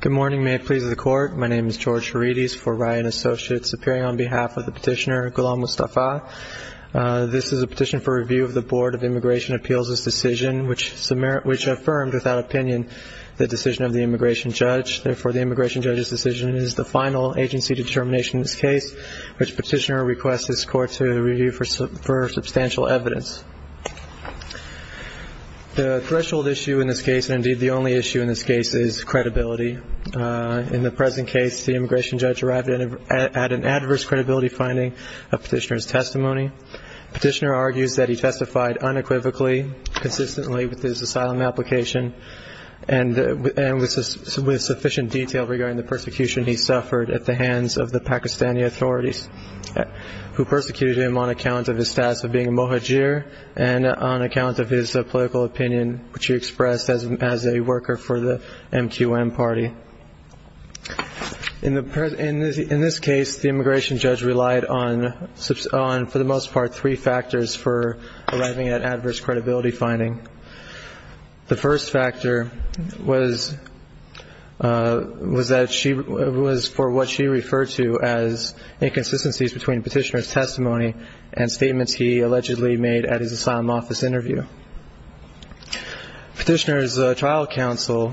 Good morning, may it please the court. My name is George Herides for Ryan Associates, appearing on behalf of the petitioner, Ghulam Mustafa. This is a petition for review of the Board of Immigration Appeals' decision which affirmed, without opinion, the decision of the immigration judge. Therefore, the immigration judge's decision is the final agency determination in this case, which petitioner requests this court to review for substantial evidence. The threshold issue in this case, and indeed the only issue in this case, is credibility. In the present case, the immigration judge arrived at an adverse credibility finding of petitioner's testimony. Petitioner argues that he testified unequivocally, consistently with his asylum application, and with sufficient detail regarding the persecution he suffered at the hands of the Pakistani authorities who persecuted him on account of his status of being a Muhajir and on account of his political opinion, which he expressed as a worker for the MQM party. In this case, the immigration judge relied on, for the most part, three factors for arriving at adverse credibility finding. The first factor was that she was for what she referred to as inconsistencies between petitioner's testimony and statements he allegedly made at his asylum office interview. Petitioner's trial counsel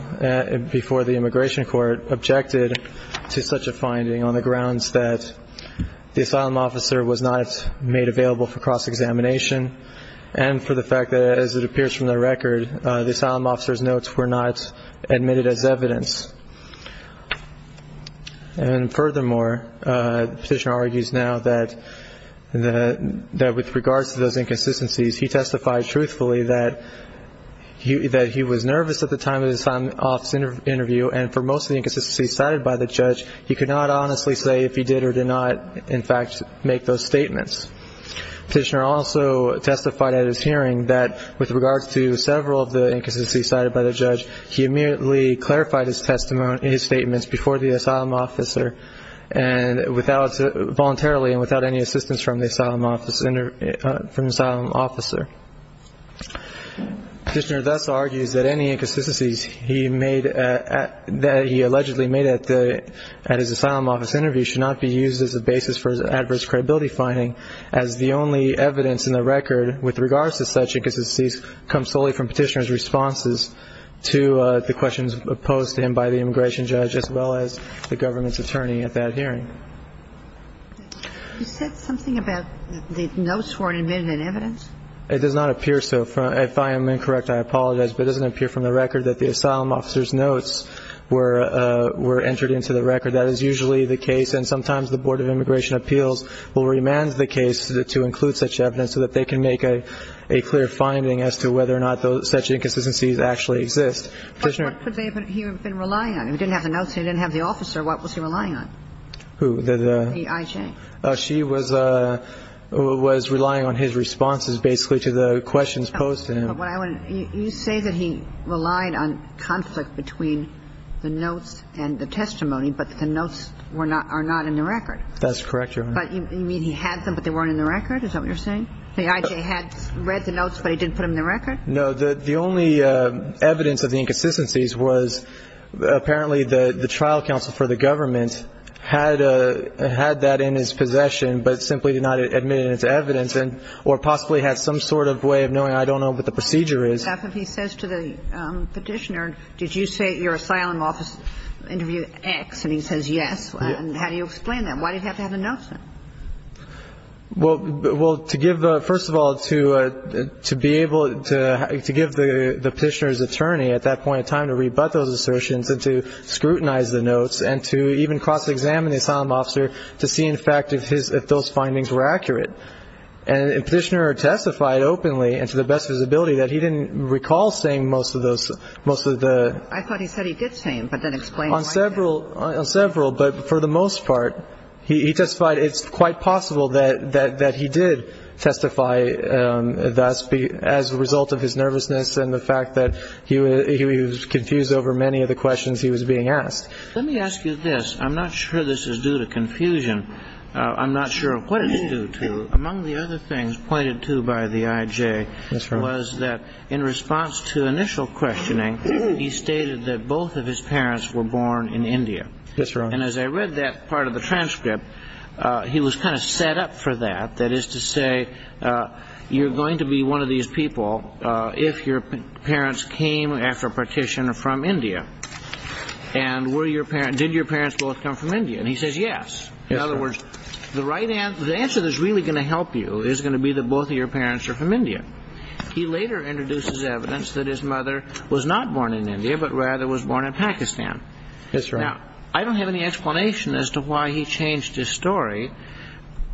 before the immigration court objected to such a finding on the grounds that the asylum officer was not made available for cross-examination and for the fact that, as it appears from the record, the asylum officer's notes were not admitted as evidence. And furthermore, petitioner argues now that with regards to those inconsistencies, he testified truthfully that he was nervous at the time of his asylum office interview, and for most of the inconsistencies cited by the judge, he could not honestly say if he did or did not, in fact, make those statements. Petitioner also testified at his hearing that with regards to several of the inconsistencies cited by the judge, he immediately clarified his statements before the asylum officer, voluntarily and without any assistance from the asylum officer. Petitioner thus argues that any inconsistencies that he allegedly made at his asylum office interview should not be used as a basis for his adverse credibility finding as the only evidence in the record with regards to such inconsistencies comes solely from petitioner's responses to the questions posed to him by the immigration judge as well as the government's attorney at that hearing. You said something about the notes weren't admitted as evidence? It does not appear so. If I am incorrect, I apologize. But it doesn't appear from the record that the asylum officer's notes were entered into the record. That is usually the case. And sometimes the Board of Immigration Appeals will remand the case to include such evidence so that they can make a clear finding as to whether or not such inconsistencies actually exist. But what could he have been relying on? He didn't have the notes. He didn't have the officer. What was he relying on? Who? The IJ. She was relying on his responses basically to the questions posed to him. You say that he relied on conflict between the notes and the testimony, but the notes are not in the record. That's correct, Your Honor. But you mean he had them but they weren't in the record? Is that what you're saying? The IJ had read the notes but he didn't put them in the record? No. The only evidence of the inconsistencies was apparently the trial counsel for the government had that in his possession but simply did not admit it as evidence or possibly had some sort of way of knowing. I don't know what the procedure is. He says to the petitioner, did you say at your asylum office interview X? And he says yes. And how do you explain that? Why did he have to have the notes? Well, to give, first of all, to be able to give the petitioner's attorney at that point in time to rebut those assertions and to scrutinize the notes and to even cross-examine the asylum officer to see, in fact, if those findings were accurate. And the petitioner testified openly and to the best of his ability that he didn't recall saying most of those, most of the... I thought he said he did say them but then explained why... Several, but for the most part, he testified it's quite possible that he did testify thus as a result of his nervousness and the fact that he was confused over many of the questions he was being asked. Let me ask you this. I'm not sure this is due to confusion. I'm not sure what it's due to. Among the other things pointed to by the IJ was that in response to initial questioning, he stated that both of his parents were born in India. That's right. And as I read that part of the transcript, he was kind of set up for that, that is to say, you're going to be one of these people if your parents came after a petition from India. And did your parents both come from India? And he says yes. In other words, the answer that's really going to help you is going to be that both of your parents are from India. He later introduces evidence that his mother was not born in India but rather was born in Pakistan. That's right. Now, I don't have any explanation as to why he changed his story.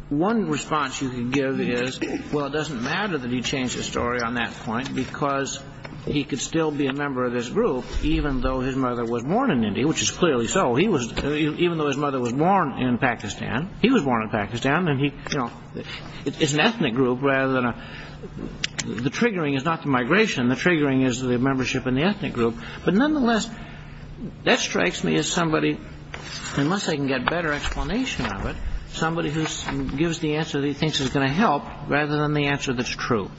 One response you can give is, well, it doesn't matter that he changed his story on that point because he could still be a member of this group even though his mother was born in India, which is clearly so. Even though his mother was born in Pakistan, he was born in Pakistan, and he is an ethnic group rather than a – the triggering is not the migration. The triggering is the membership in the ethnic group. But nonetheless, that strikes me as somebody, unless I can get a better explanation of it, somebody who gives the answer that he thinks is going to help rather than the answer that's true.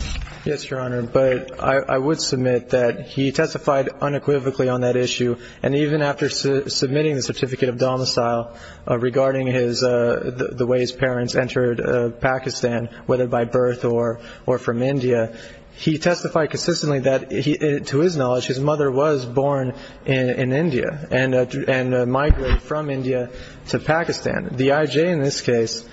Yes, Your Honor. But I would submit that he testified unequivocally on that issue, and even after submitting the certificate of domicile regarding the way his parents entered Pakistan, whether by birth or from India, he testified consistently that, to his knowledge, his mother was born in India and migrated from India to Pakistan. The IJ in this case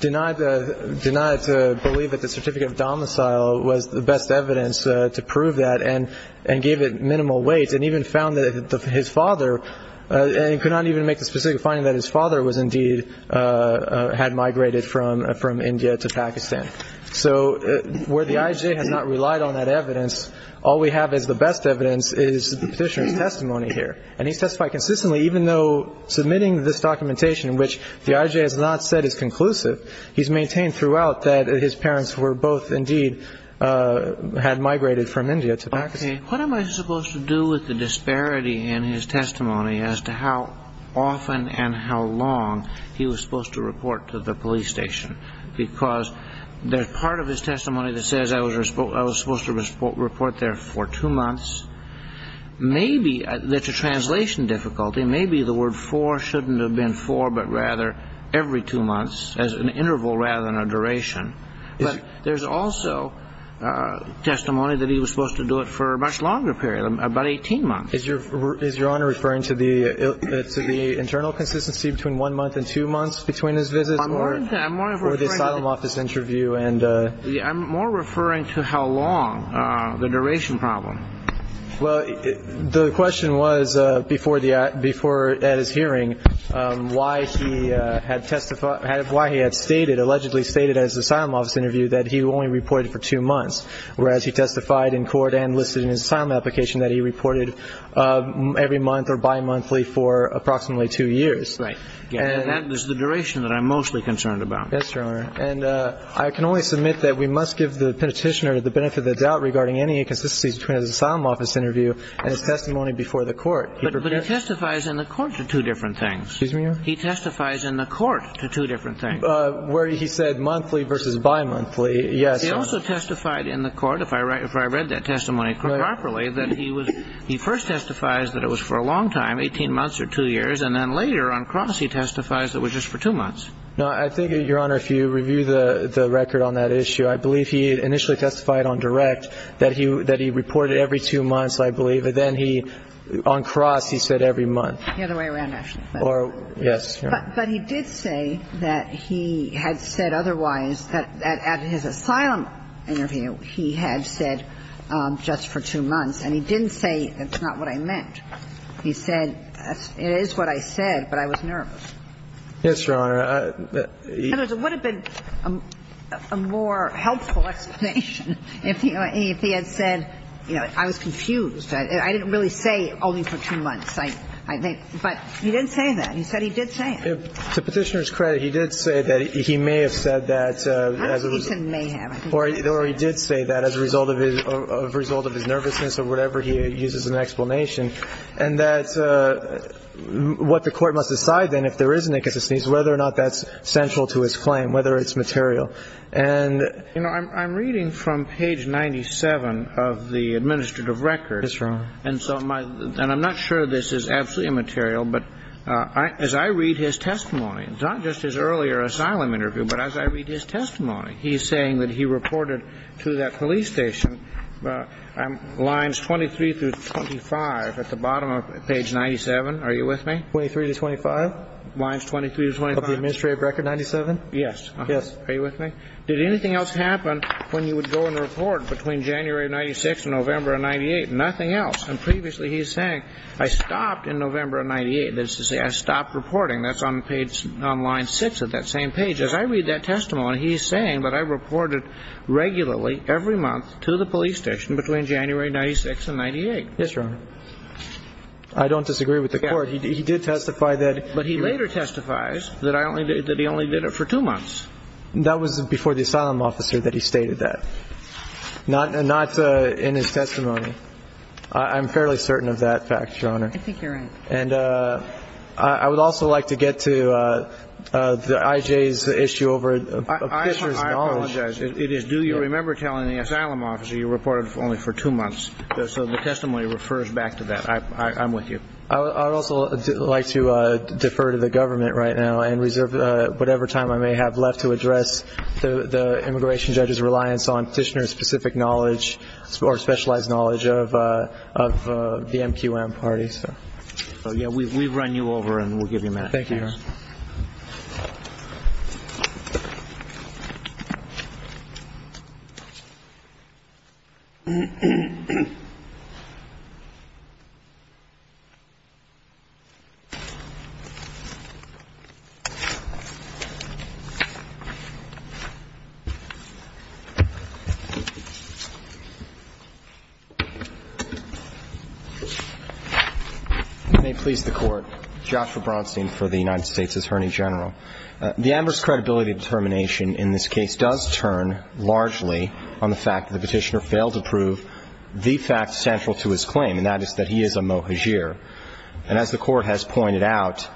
denied to believe that the certificate of domicile was the best evidence to prove that and gave it minimal weight and even found that his father – and could not even make the specific finding that his father was indeed – had migrated from India to Pakistan. So where the IJ has not relied on that evidence, all we have as the best evidence is the petitioner's testimony here. And he testified consistently, even though submitting this documentation, which the IJ has not said is conclusive, he's maintained throughout that his parents were both indeed – had migrated from India to Pakistan. Okay. What am I supposed to do with the disparity in his testimony as to how often and how long he was supposed to report to the police station? Because there's part of his testimony that says, I was supposed to report there for two months. Maybe there's a translation difficulty. Maybe the word four shouldn't have been four, but rather every two months as an interval rather than a duration. But there's also testimony that he was supposed to do it for a much longer period, about 18 months. Is Your Honor referring to the internal consistency between one month and two months between his visits or the asylum office interview? I'm more referring to how long, the duration problem. Well, the question was before at his hearing why he had testified – why he had stated, allegedly stated at his asylum office interview that he only reported for two months, whereas he testified in court and listed in his asylum application that he reported every month or bimonthly for approximately two years. Right. And that is the duration that I'm mostly concerned about. Yes, Your Honor. And I can only submit that we must give the petitioner the benefit of the doubt regarding any inconsistencies between his asylum office interview and his testimony before the court. But he testifies in the court to two different things. Excuse me, Your Honor? He testifies in the court to two different things. Where he said monthly versus bimonthly, yes. He also testified in the court, if I read that testimony properly, that he first testifies that it was for a long time, 18 months or two years, and then later on cross he testifies that it was just for two months. No, I think, Your Honor, if you review the record on that issue, I believe he initially testified on direct that he reported every two months, I believe. But then he – on cross he said every month. The other way around, actually. Yes. But he did say that he had said otherwise, that at his asylum interview he had said just for two months. And he didn't say it's not what I meant. He said it is what I said, but I was nervous. Yes, Your Honor. In other words, it would have been a more helpful explanation if he had said, you know, I was confused. I didn't really say only for two months, I think. But he didn't say that. He said he did say it. To Petitioner's credit, he did say that he may have said that. I don't think he said may have. Or he did say that as a result of his nervousness or whatever, he uses an explanation, and that's what the court must decide then if there is an inconsistency, whether or not that's central to his claim, whether it's material. And, you know, I'm reading from page 97 of the administrative record. Yes, Your Honor. And so my – and I'm not sure this is absolutely immaterial, but as I read his testimony, it's not just his earlier asylum interview, but as I read his testimony, he's saying that he reported to that police station lines 23 through 25 at the bottom of page 97. Are you with me? 23 to 25? Lines 23 to 25. Of the administrative record 97? Yes. Yes. Are you with me? Did anything else happen when you would go and report between January of 96 and November of 98? Nothing else. And previously he's saying, I stopped in November of 98. That is to say, I stopped reporting. That's on page – on line 6 of that same page. As I read that testimony, he's saying that I reported regularly every month to the police station between January 96 and 98. Yes, Your Honor. I don't disagree with the court. He did testify that – But he later testifies that I only – that he only did it for two months. That was before the asylum officer that he stated that, not in his testimony. I'm fairly certain of that fact, Your Honor. I think you're right. And I would also like to get to the IJ's issue over a petitioner's knowledge. I apologize. It is due. You remember telling the asylum officer you reported only for two months. So the testimony refers back to that. I'm with you. I would also like to defer to the government right now and reserve whatever time I may have left to address the immigration judge's reliance on petitioner's specific knowledge or specialized knowledge of the MQM party. So, yeah, we run you over and we'll give you a minute. May it please the Court. Joshua Bronstein for the United States Attorney General. The ambers credibility determination in this case does turn largely on the fact that the petitioner failed to prove the fact central to his claim, and that is that he is a mohajir. And as the Court has pointed out,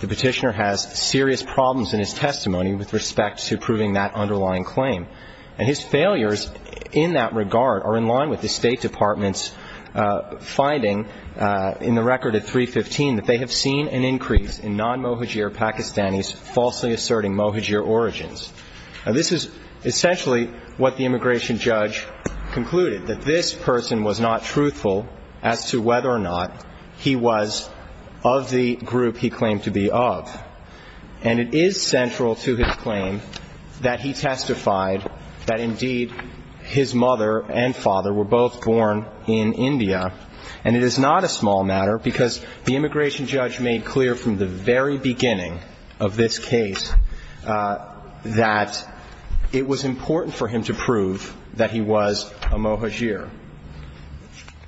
the petitioner has serious problems in his testimony with respect to proving that underlying claim. And his failures in that regard are in line with the State Department's finding in the record at 315 that they have seen an increase in non-mohajir Pakistanis falsely asserting mohajir origins. Now, this is essentially what the immigration judge concluded, that this person was not truthful as to whether or not he was of the group he claimed to be of. And it is central to his claim that he testified that, indeed, his mother and father were both born in India. And it is not a small matter because the immigration judge made clear from the very beginning of this case that it was important for him to prove that he was a mohajir.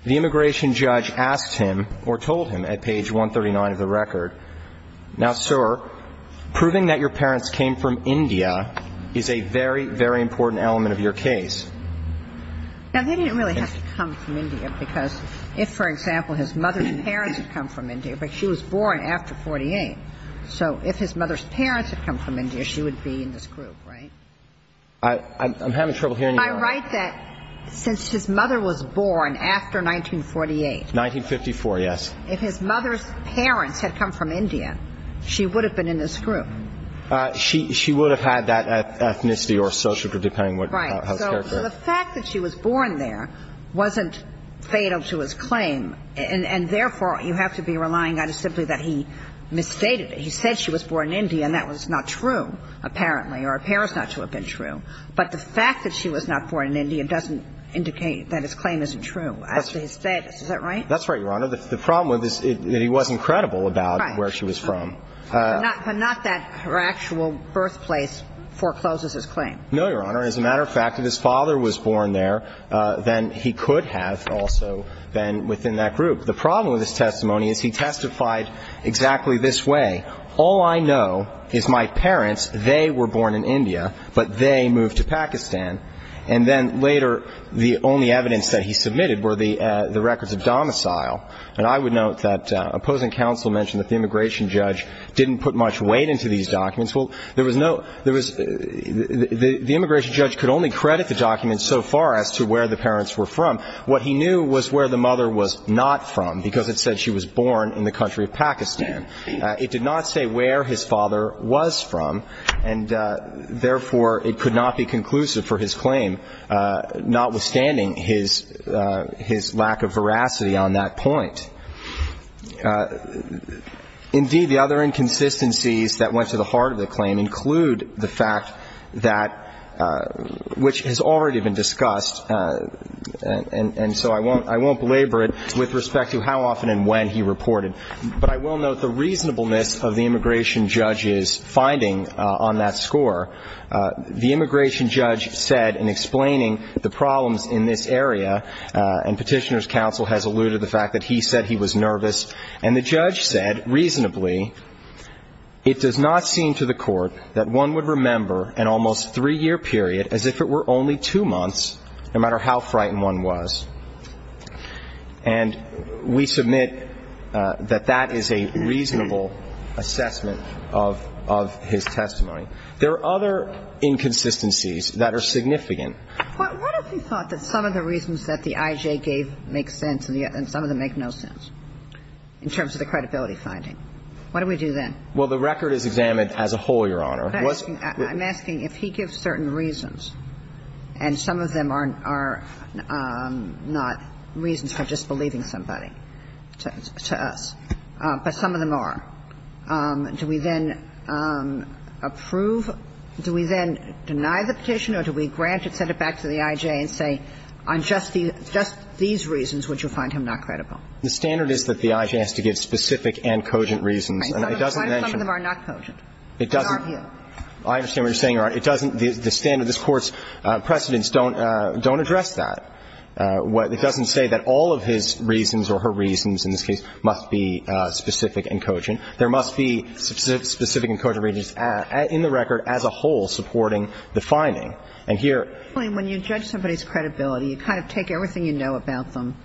The immigration judge asked him or told him at page 139 of the record, now, sir, proving that your parents came from India is a very, very important element of your case. Now, they didn't really have to come from India because if, for example, his mother's parents had come from India, but she was born after 48, so if his mother's parents had come from India, she would be in this group, right? I'm having trouble hearing you. I write that since his mother was born after 1948. 1954, yes. If his mother's parents had come from India, she would have been in this group. She would have had that ethnicity or social group, depending on how it's characterized. Right. So the fact that she was born there wasn't fatal to his claim. And, therefore, you have to be relying on it simply that he misstated it. He said she was born in India, and that was not true, apparently, or appears not to have been true. But the fact that she was not born in India doesn't indicate that his claim isn't true as to his status. Is that right? That's right, Your Honor. The problem with this is that he wasn't credible about where she was from. Right. But not that her actual birthplace forecloses his claim. No, Your Honor. As a matter of fact, if his father was born there, then he could have also been within that group. The problem with his testimony is he testified exactly this way. All I know is my parents, they were born in India, but they moved to Pakistan. And then later, the only evidence that he submitted were the records of domicile. And I would note that opposing counsel mentioned that the immigration judge didn't put much weight into these documents. Well, there was no – there was – the immigration judge could only credit the documents so far as to where the parents were from. What he knew was where the mother was not from, because it said she was born in the country of Pakistan. It did not say where his father was from, and therefore it could not be conclusive for his claim notwithstanding his lack of veracity on that point. Indeed, the other inconsistencies that went to the heart of the claim include the fact that – which has already been discussed, and so I won't belabor it with respect to how often and when he reported. But I will note the reasonableness of the immigration judge's finding on that score. The immigration judge said in explaining the problems in this area, and Petitioner's counsel has alluded to the fact that he said he was nervous, and the judge said reasonably, it does not seem to the court that one would remember an almost three-year period as if it were only two months, no matter how frightened one was. And we submit that that is a reasonable assessment of his testimony. There are other inconsistencies that are significant. What if he thought that some of the reasons that the IJ gave make sense and some of them make no sense in terms of the credibility finding? What do we do then? Well, the record is examined as a whole, Your Honor. I'm asking if he gives certain reasons, and some of them are not reasons for disbelieving somebody to us, but some of them are, do we then approve, do we then deny the petition or do we grant it, send it back to the IJ and say, on just these reasons would you find him not credible? The standard is that the IJ has to give specific and cogent reasons. And some of them are not cogent. It doesn't – I understand what you're saying, Your Honor. It doesn't – the standard, this Court's precedents don't address that. It doesn't say that all of his reasons or her reasons in this case must be specific and cogent. There must be specific and cogent reasons in the record as a whole supporting the finding. And here – When you judge somebody's credibility, you kind of take everything you know about them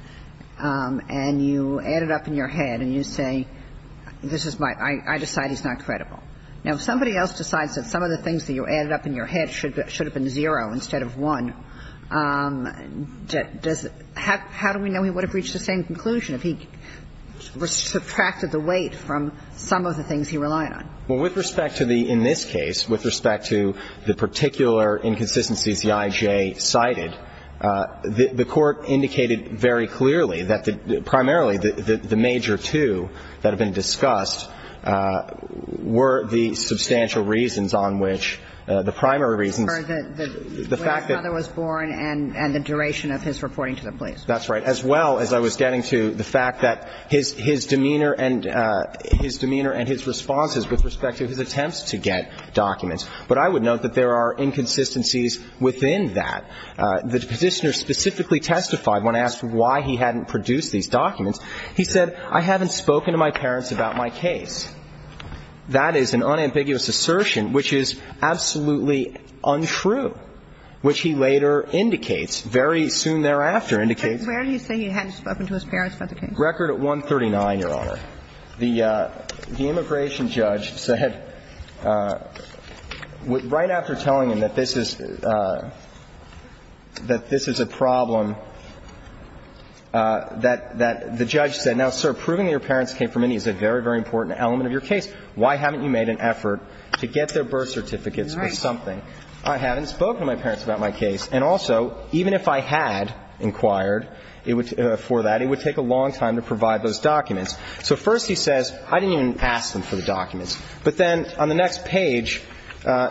and you add it up in your head and you say, this is my – I decide he's not credible. Now, if somebody else decides that some of the things that you added up in your head should have been zero instead of one, does – how do we know he would have reached the same conclusion if he subtracted the weight from some of the things he relied on? Well, with respect to the – in this case, with respect to the particular inconsistencies the IJ cited, the Court indicated very clearly that the – primarily the major two that have been discussed were the substantial reasons on which the primary reasons, the fact that – For the way his father was born and the duration of his reporting to the police. That's right. As well as I was getting to the fact that his – his demeanor and – his demeanor and his responses with respect to his attempts to get documents. But I would note that there are inconsistencies within that. The Petitioner specifically testified when asked why he hadn't produced these documents in the first place. He said, I haven't spoken to my parents about my case. That is an unambiguous assertion, which is absolutely untrue, which he later indicates, very soon thereafter indicates. Where did he say he hadn't spoken to his parents about the case? Record at 139, Your Honor. The immigration judge said right after telling him that this is – that this is a problem, that the judge said, now, sir, proving that your parents came from India is a very, very important element of your case. Why haven't you made an effort to get their birth certificates or something? Right. I haven't spoken to my parents about my case. And also, even if I had inquired for that, it would take a long time to provide those documents. So first he says, I didn't even ask them for the documents. But then on the next page,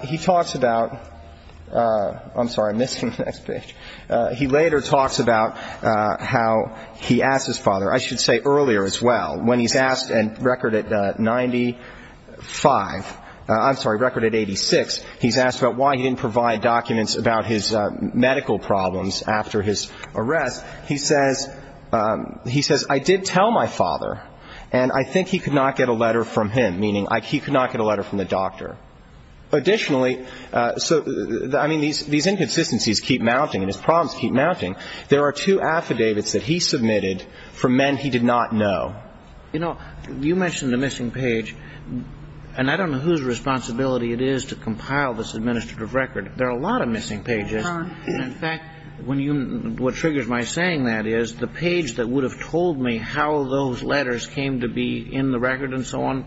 he talks about – I'm sorry. I'm missing the next page. He later talks about how he asked his father, I should say earlier as well, when he's asked – and record at 95 – I'm sorry, record at 86, he's asked about why he didn't provide documents about his medical problems after his arrest. He says, he says, I did tell my father, and I think he could not get a letter from him, meaning he could not get a letter from the doctor. Additionally – so, I mean, these inconsistencies keep mounting and his problems keep mounting. There are two affidavits that he submitted from men he did not know. You know, you mentioned the missing page, and I don't know whose responsibility it is to compile this administrative record. There are a lot of missing pages. In fact, when you – what triggers my saying that is the page that would have told me how those letters came to be in the record and so on,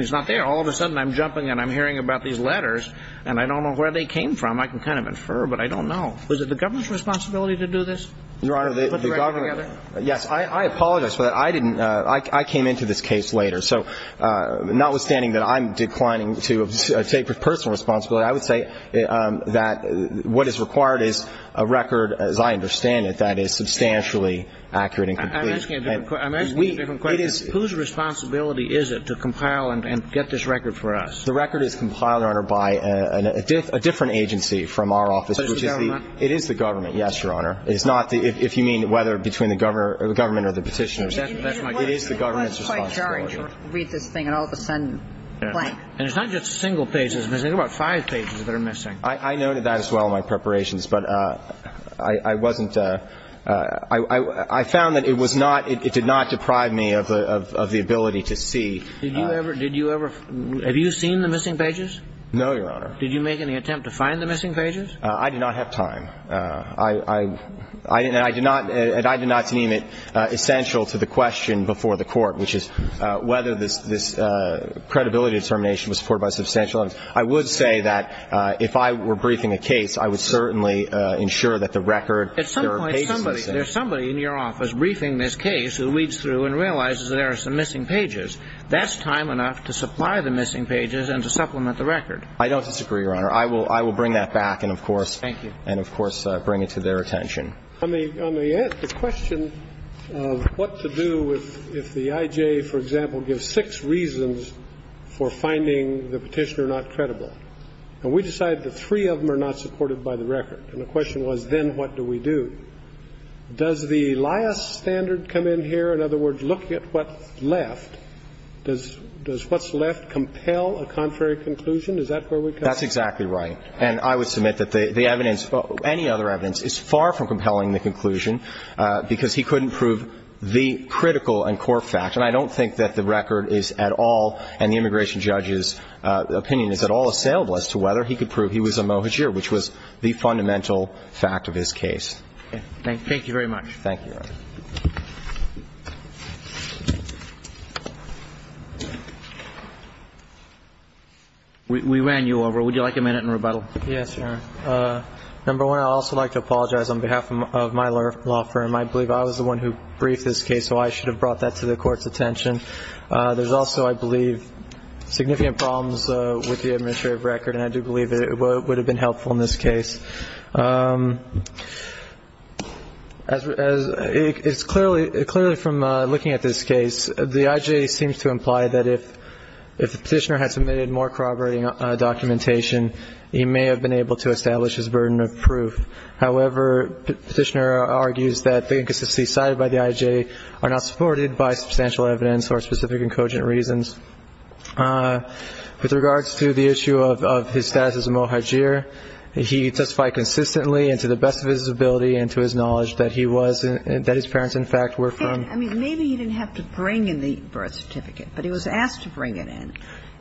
it's not there. All of a sudden, I'm jumping and I'm hearing about these letters, and I don't know where they came from. I can kind of infer, but I don't know. Was it the government's responsibility to do this? Your Honor, the government – yes. I apologize for that. I didn't – I came into this case later. So notwithstanding that I'm declining to take personal responsibility, I would say that what is required is a record, as I understand it, that is substantially accurate and complete. I'm asking a different question. Whose responsibility is it to compile and get this record for us? The record is compiled, Your Honor, by a different agency from our office. So it's the government? It is the government, yes, Your Honor. It is not the – if you mean whether between the government or the Petitioners. It is the government's responsibility. I was quite jarred to read this thing, and all of a sudden, blank. And it's not just single pages. There's about five pages that are missing. I noted that as well in my preparations, but I wasn't – I found that it was not – it was not a matter of the ability to see. Did you ever – did you ever – have you seen the missing pages? No, Your Honor. Did you make any attempt to find the missing pages? I did not have time. I – and I did not – and I did not deem it essential to the question before the Court, which is whether this credibility determination was supported by substantial evidence. I would say that if I were briefing a case, I would certainly ensure that the record – there are pages missing. There's somebody in your office briefing this case who reads through and realizes there are some missing pages. That's time enough to supply the missing pages and to supplement the record. I don't disagree, Your Honor. I will – I will bring that back and, of course – Thank you. And, of course, bring it to their attention. On the – on the question of what to do if the IJ, for example, gives six reasons for finding the Petitioner not credible. And we decided that three of them are not supported by the record. And the question was, then what do we do? Does the last standard come in here? In other words, look at what's left. Does – does what's left compel a contrary conclusion? Is that where we come? That's exactly right. And I would submit that the evidence – any other evidence is far from compelling the conclusion because he couldn't prove the critical and core fact. And I don't think that the record is at all – and the immigration judge's opinion is at all assailable as to whether he could prove he was a mohajir, which was the fundamental fact of his case. Thank you very much. Thank you, Your Honor. We ran you over. Would you like a minute in rebuttal? Yes, Your Honor. Number one, I'd also like to apologize on behalf of my law firm. I believe I was the one who briefed this case, so I should have brought that to the Court's attention. There's also, I believe, significant problems with the administrative record, and I do believe it would have been helpful in this case. As – clearly from looking at this case, the IJ seems to imply that if the petitioner had submitted more corroborating documentation, he may have been able to establish his burden of proof. However, the petitioner argues that the inconsistencies cited by the IJ are not supported by substantial evidence or specific and cogent reasons. With regards to the issue of his status as a mohajir, he testified consistently and to the best of his ability and to his knowledge that he was – that his parents, in fact, were from – I mean, maybe he didn't have to bring in the birth certificate, but he was asked to bring it in.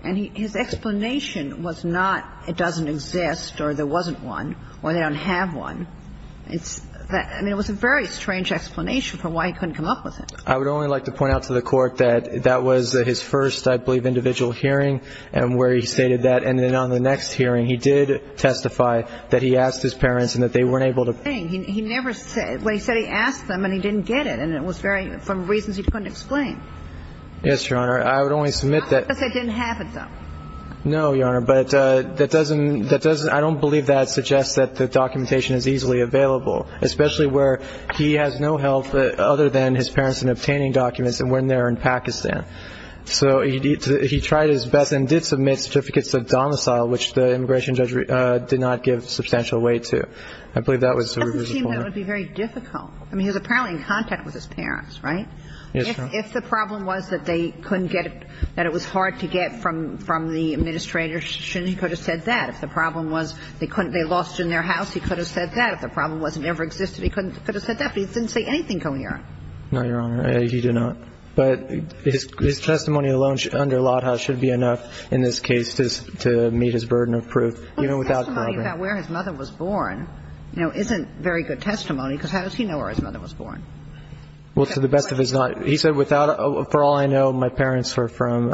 And his explanation was not it doesn't exist or there wasn't one or they don't have one. It's – I mean, it was a very strange explanation for why he couldn't come up with I would only like to point out to the Court that that was his first, I believe, individual hearing and where he stated that. And then on the next hearing, he did testify that he asked his parents and that they weren't able to bring – He never said – when he said he asked them and he didn't get it, and it was very – for reasons he couldn't explain. Yes, Your Honor. I would only submit that – Not that they didn't have it, though. No, Your Honor. But that doesn't – that doesn't – I don't believe that suggests that the documentation is easily available, especially where he has no help other than his parents in obtaining documents and when they're in Pakistan. So he tried his best and did submit certificates of domicile, which the immigration judge did not give substantial weight to. I believe that was the reason for that. It doesn't seem that it would be very difficult. I mean, he was apparently in contact with his parents, right? Yes, Your Honor. If the problem was that they couldn't get it, that it was hard to get from the administrator, he shouldn't have said that. If the problem was they couldn't – they lost it in their house, he could have said that. If the problem was it never existed, he could have said that, but he didn't say anything, Your Honor. No, Your Honor. He did not. But his testimony alone under Lodhaus should be enough in this case to meet his burden of proof, even without – Well, his testimony about where his mother was born, you know, isn't very good testimony because how does he know where his mother was born? Well, to the best of his knowledge – he said without – for all I know, my parents were from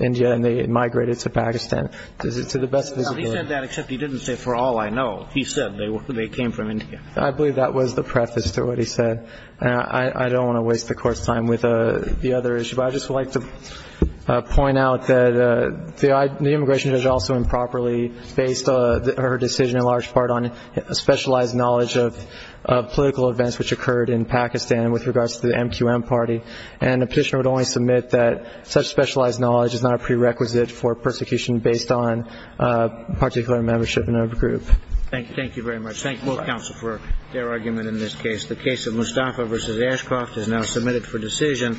India and they migrated to Pakistan. To the best of his knowledge. No, he said that except he didn't say for all I know. He said they came from India. I believe that was the preface to what he said. I don't want to waste the Court's time with the other issue. But I'd just like to point out that the immigration judge also improperly based her decision in large part on specialized knowledge of political events which occurred in Pakistan with regards to the MQM party. And the petitioner would only submit that such specialized knowledge is not a prerequisite for persecution based on particular membership in a group. Thank you. Thank you very much. Thank both counsel for their argument in this case. The case of Mustafa v. Ashcroft is now submitted for decision.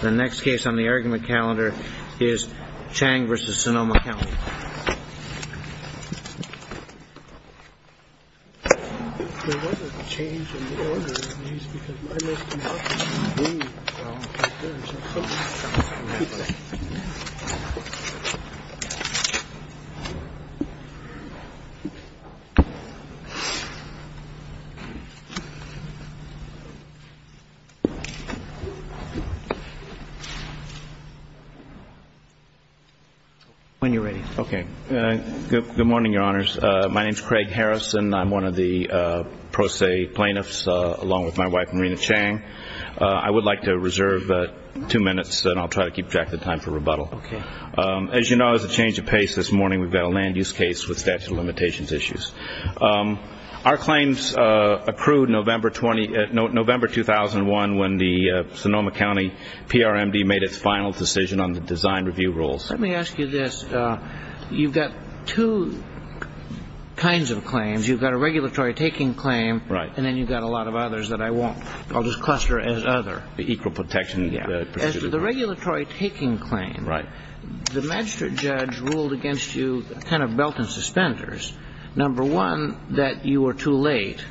The next case on the argument calendar is Chang v. Sonoma County. There was a change in the order of these because my list was up to three. When you're ready. Okay. Good morning, Your Honors. My name is Craig Harrison. I'm one of the pro se plaintiffs along with my wife, Marina Chang. I would like to reserve two minutes and I'll try to keep track of the time for rebuttal. Okay. As you know, there's a change of pace this morning. We've got a land use case with statute of limitations issues. Our claims approved November 2001 when the Sonoma County PRMD made its final decision on the design review rules. Let me ask you this. You've got two kinds of claims. You've got a regulatory taking claim. Right. And then you've got a lot of others that I won't. I'll just cluster as other. The equal protection. Yeah. As to the regulatory taking claim. Right. The magistrate judge ruled against you kind of belt and suspenders. Number one, that you were too late.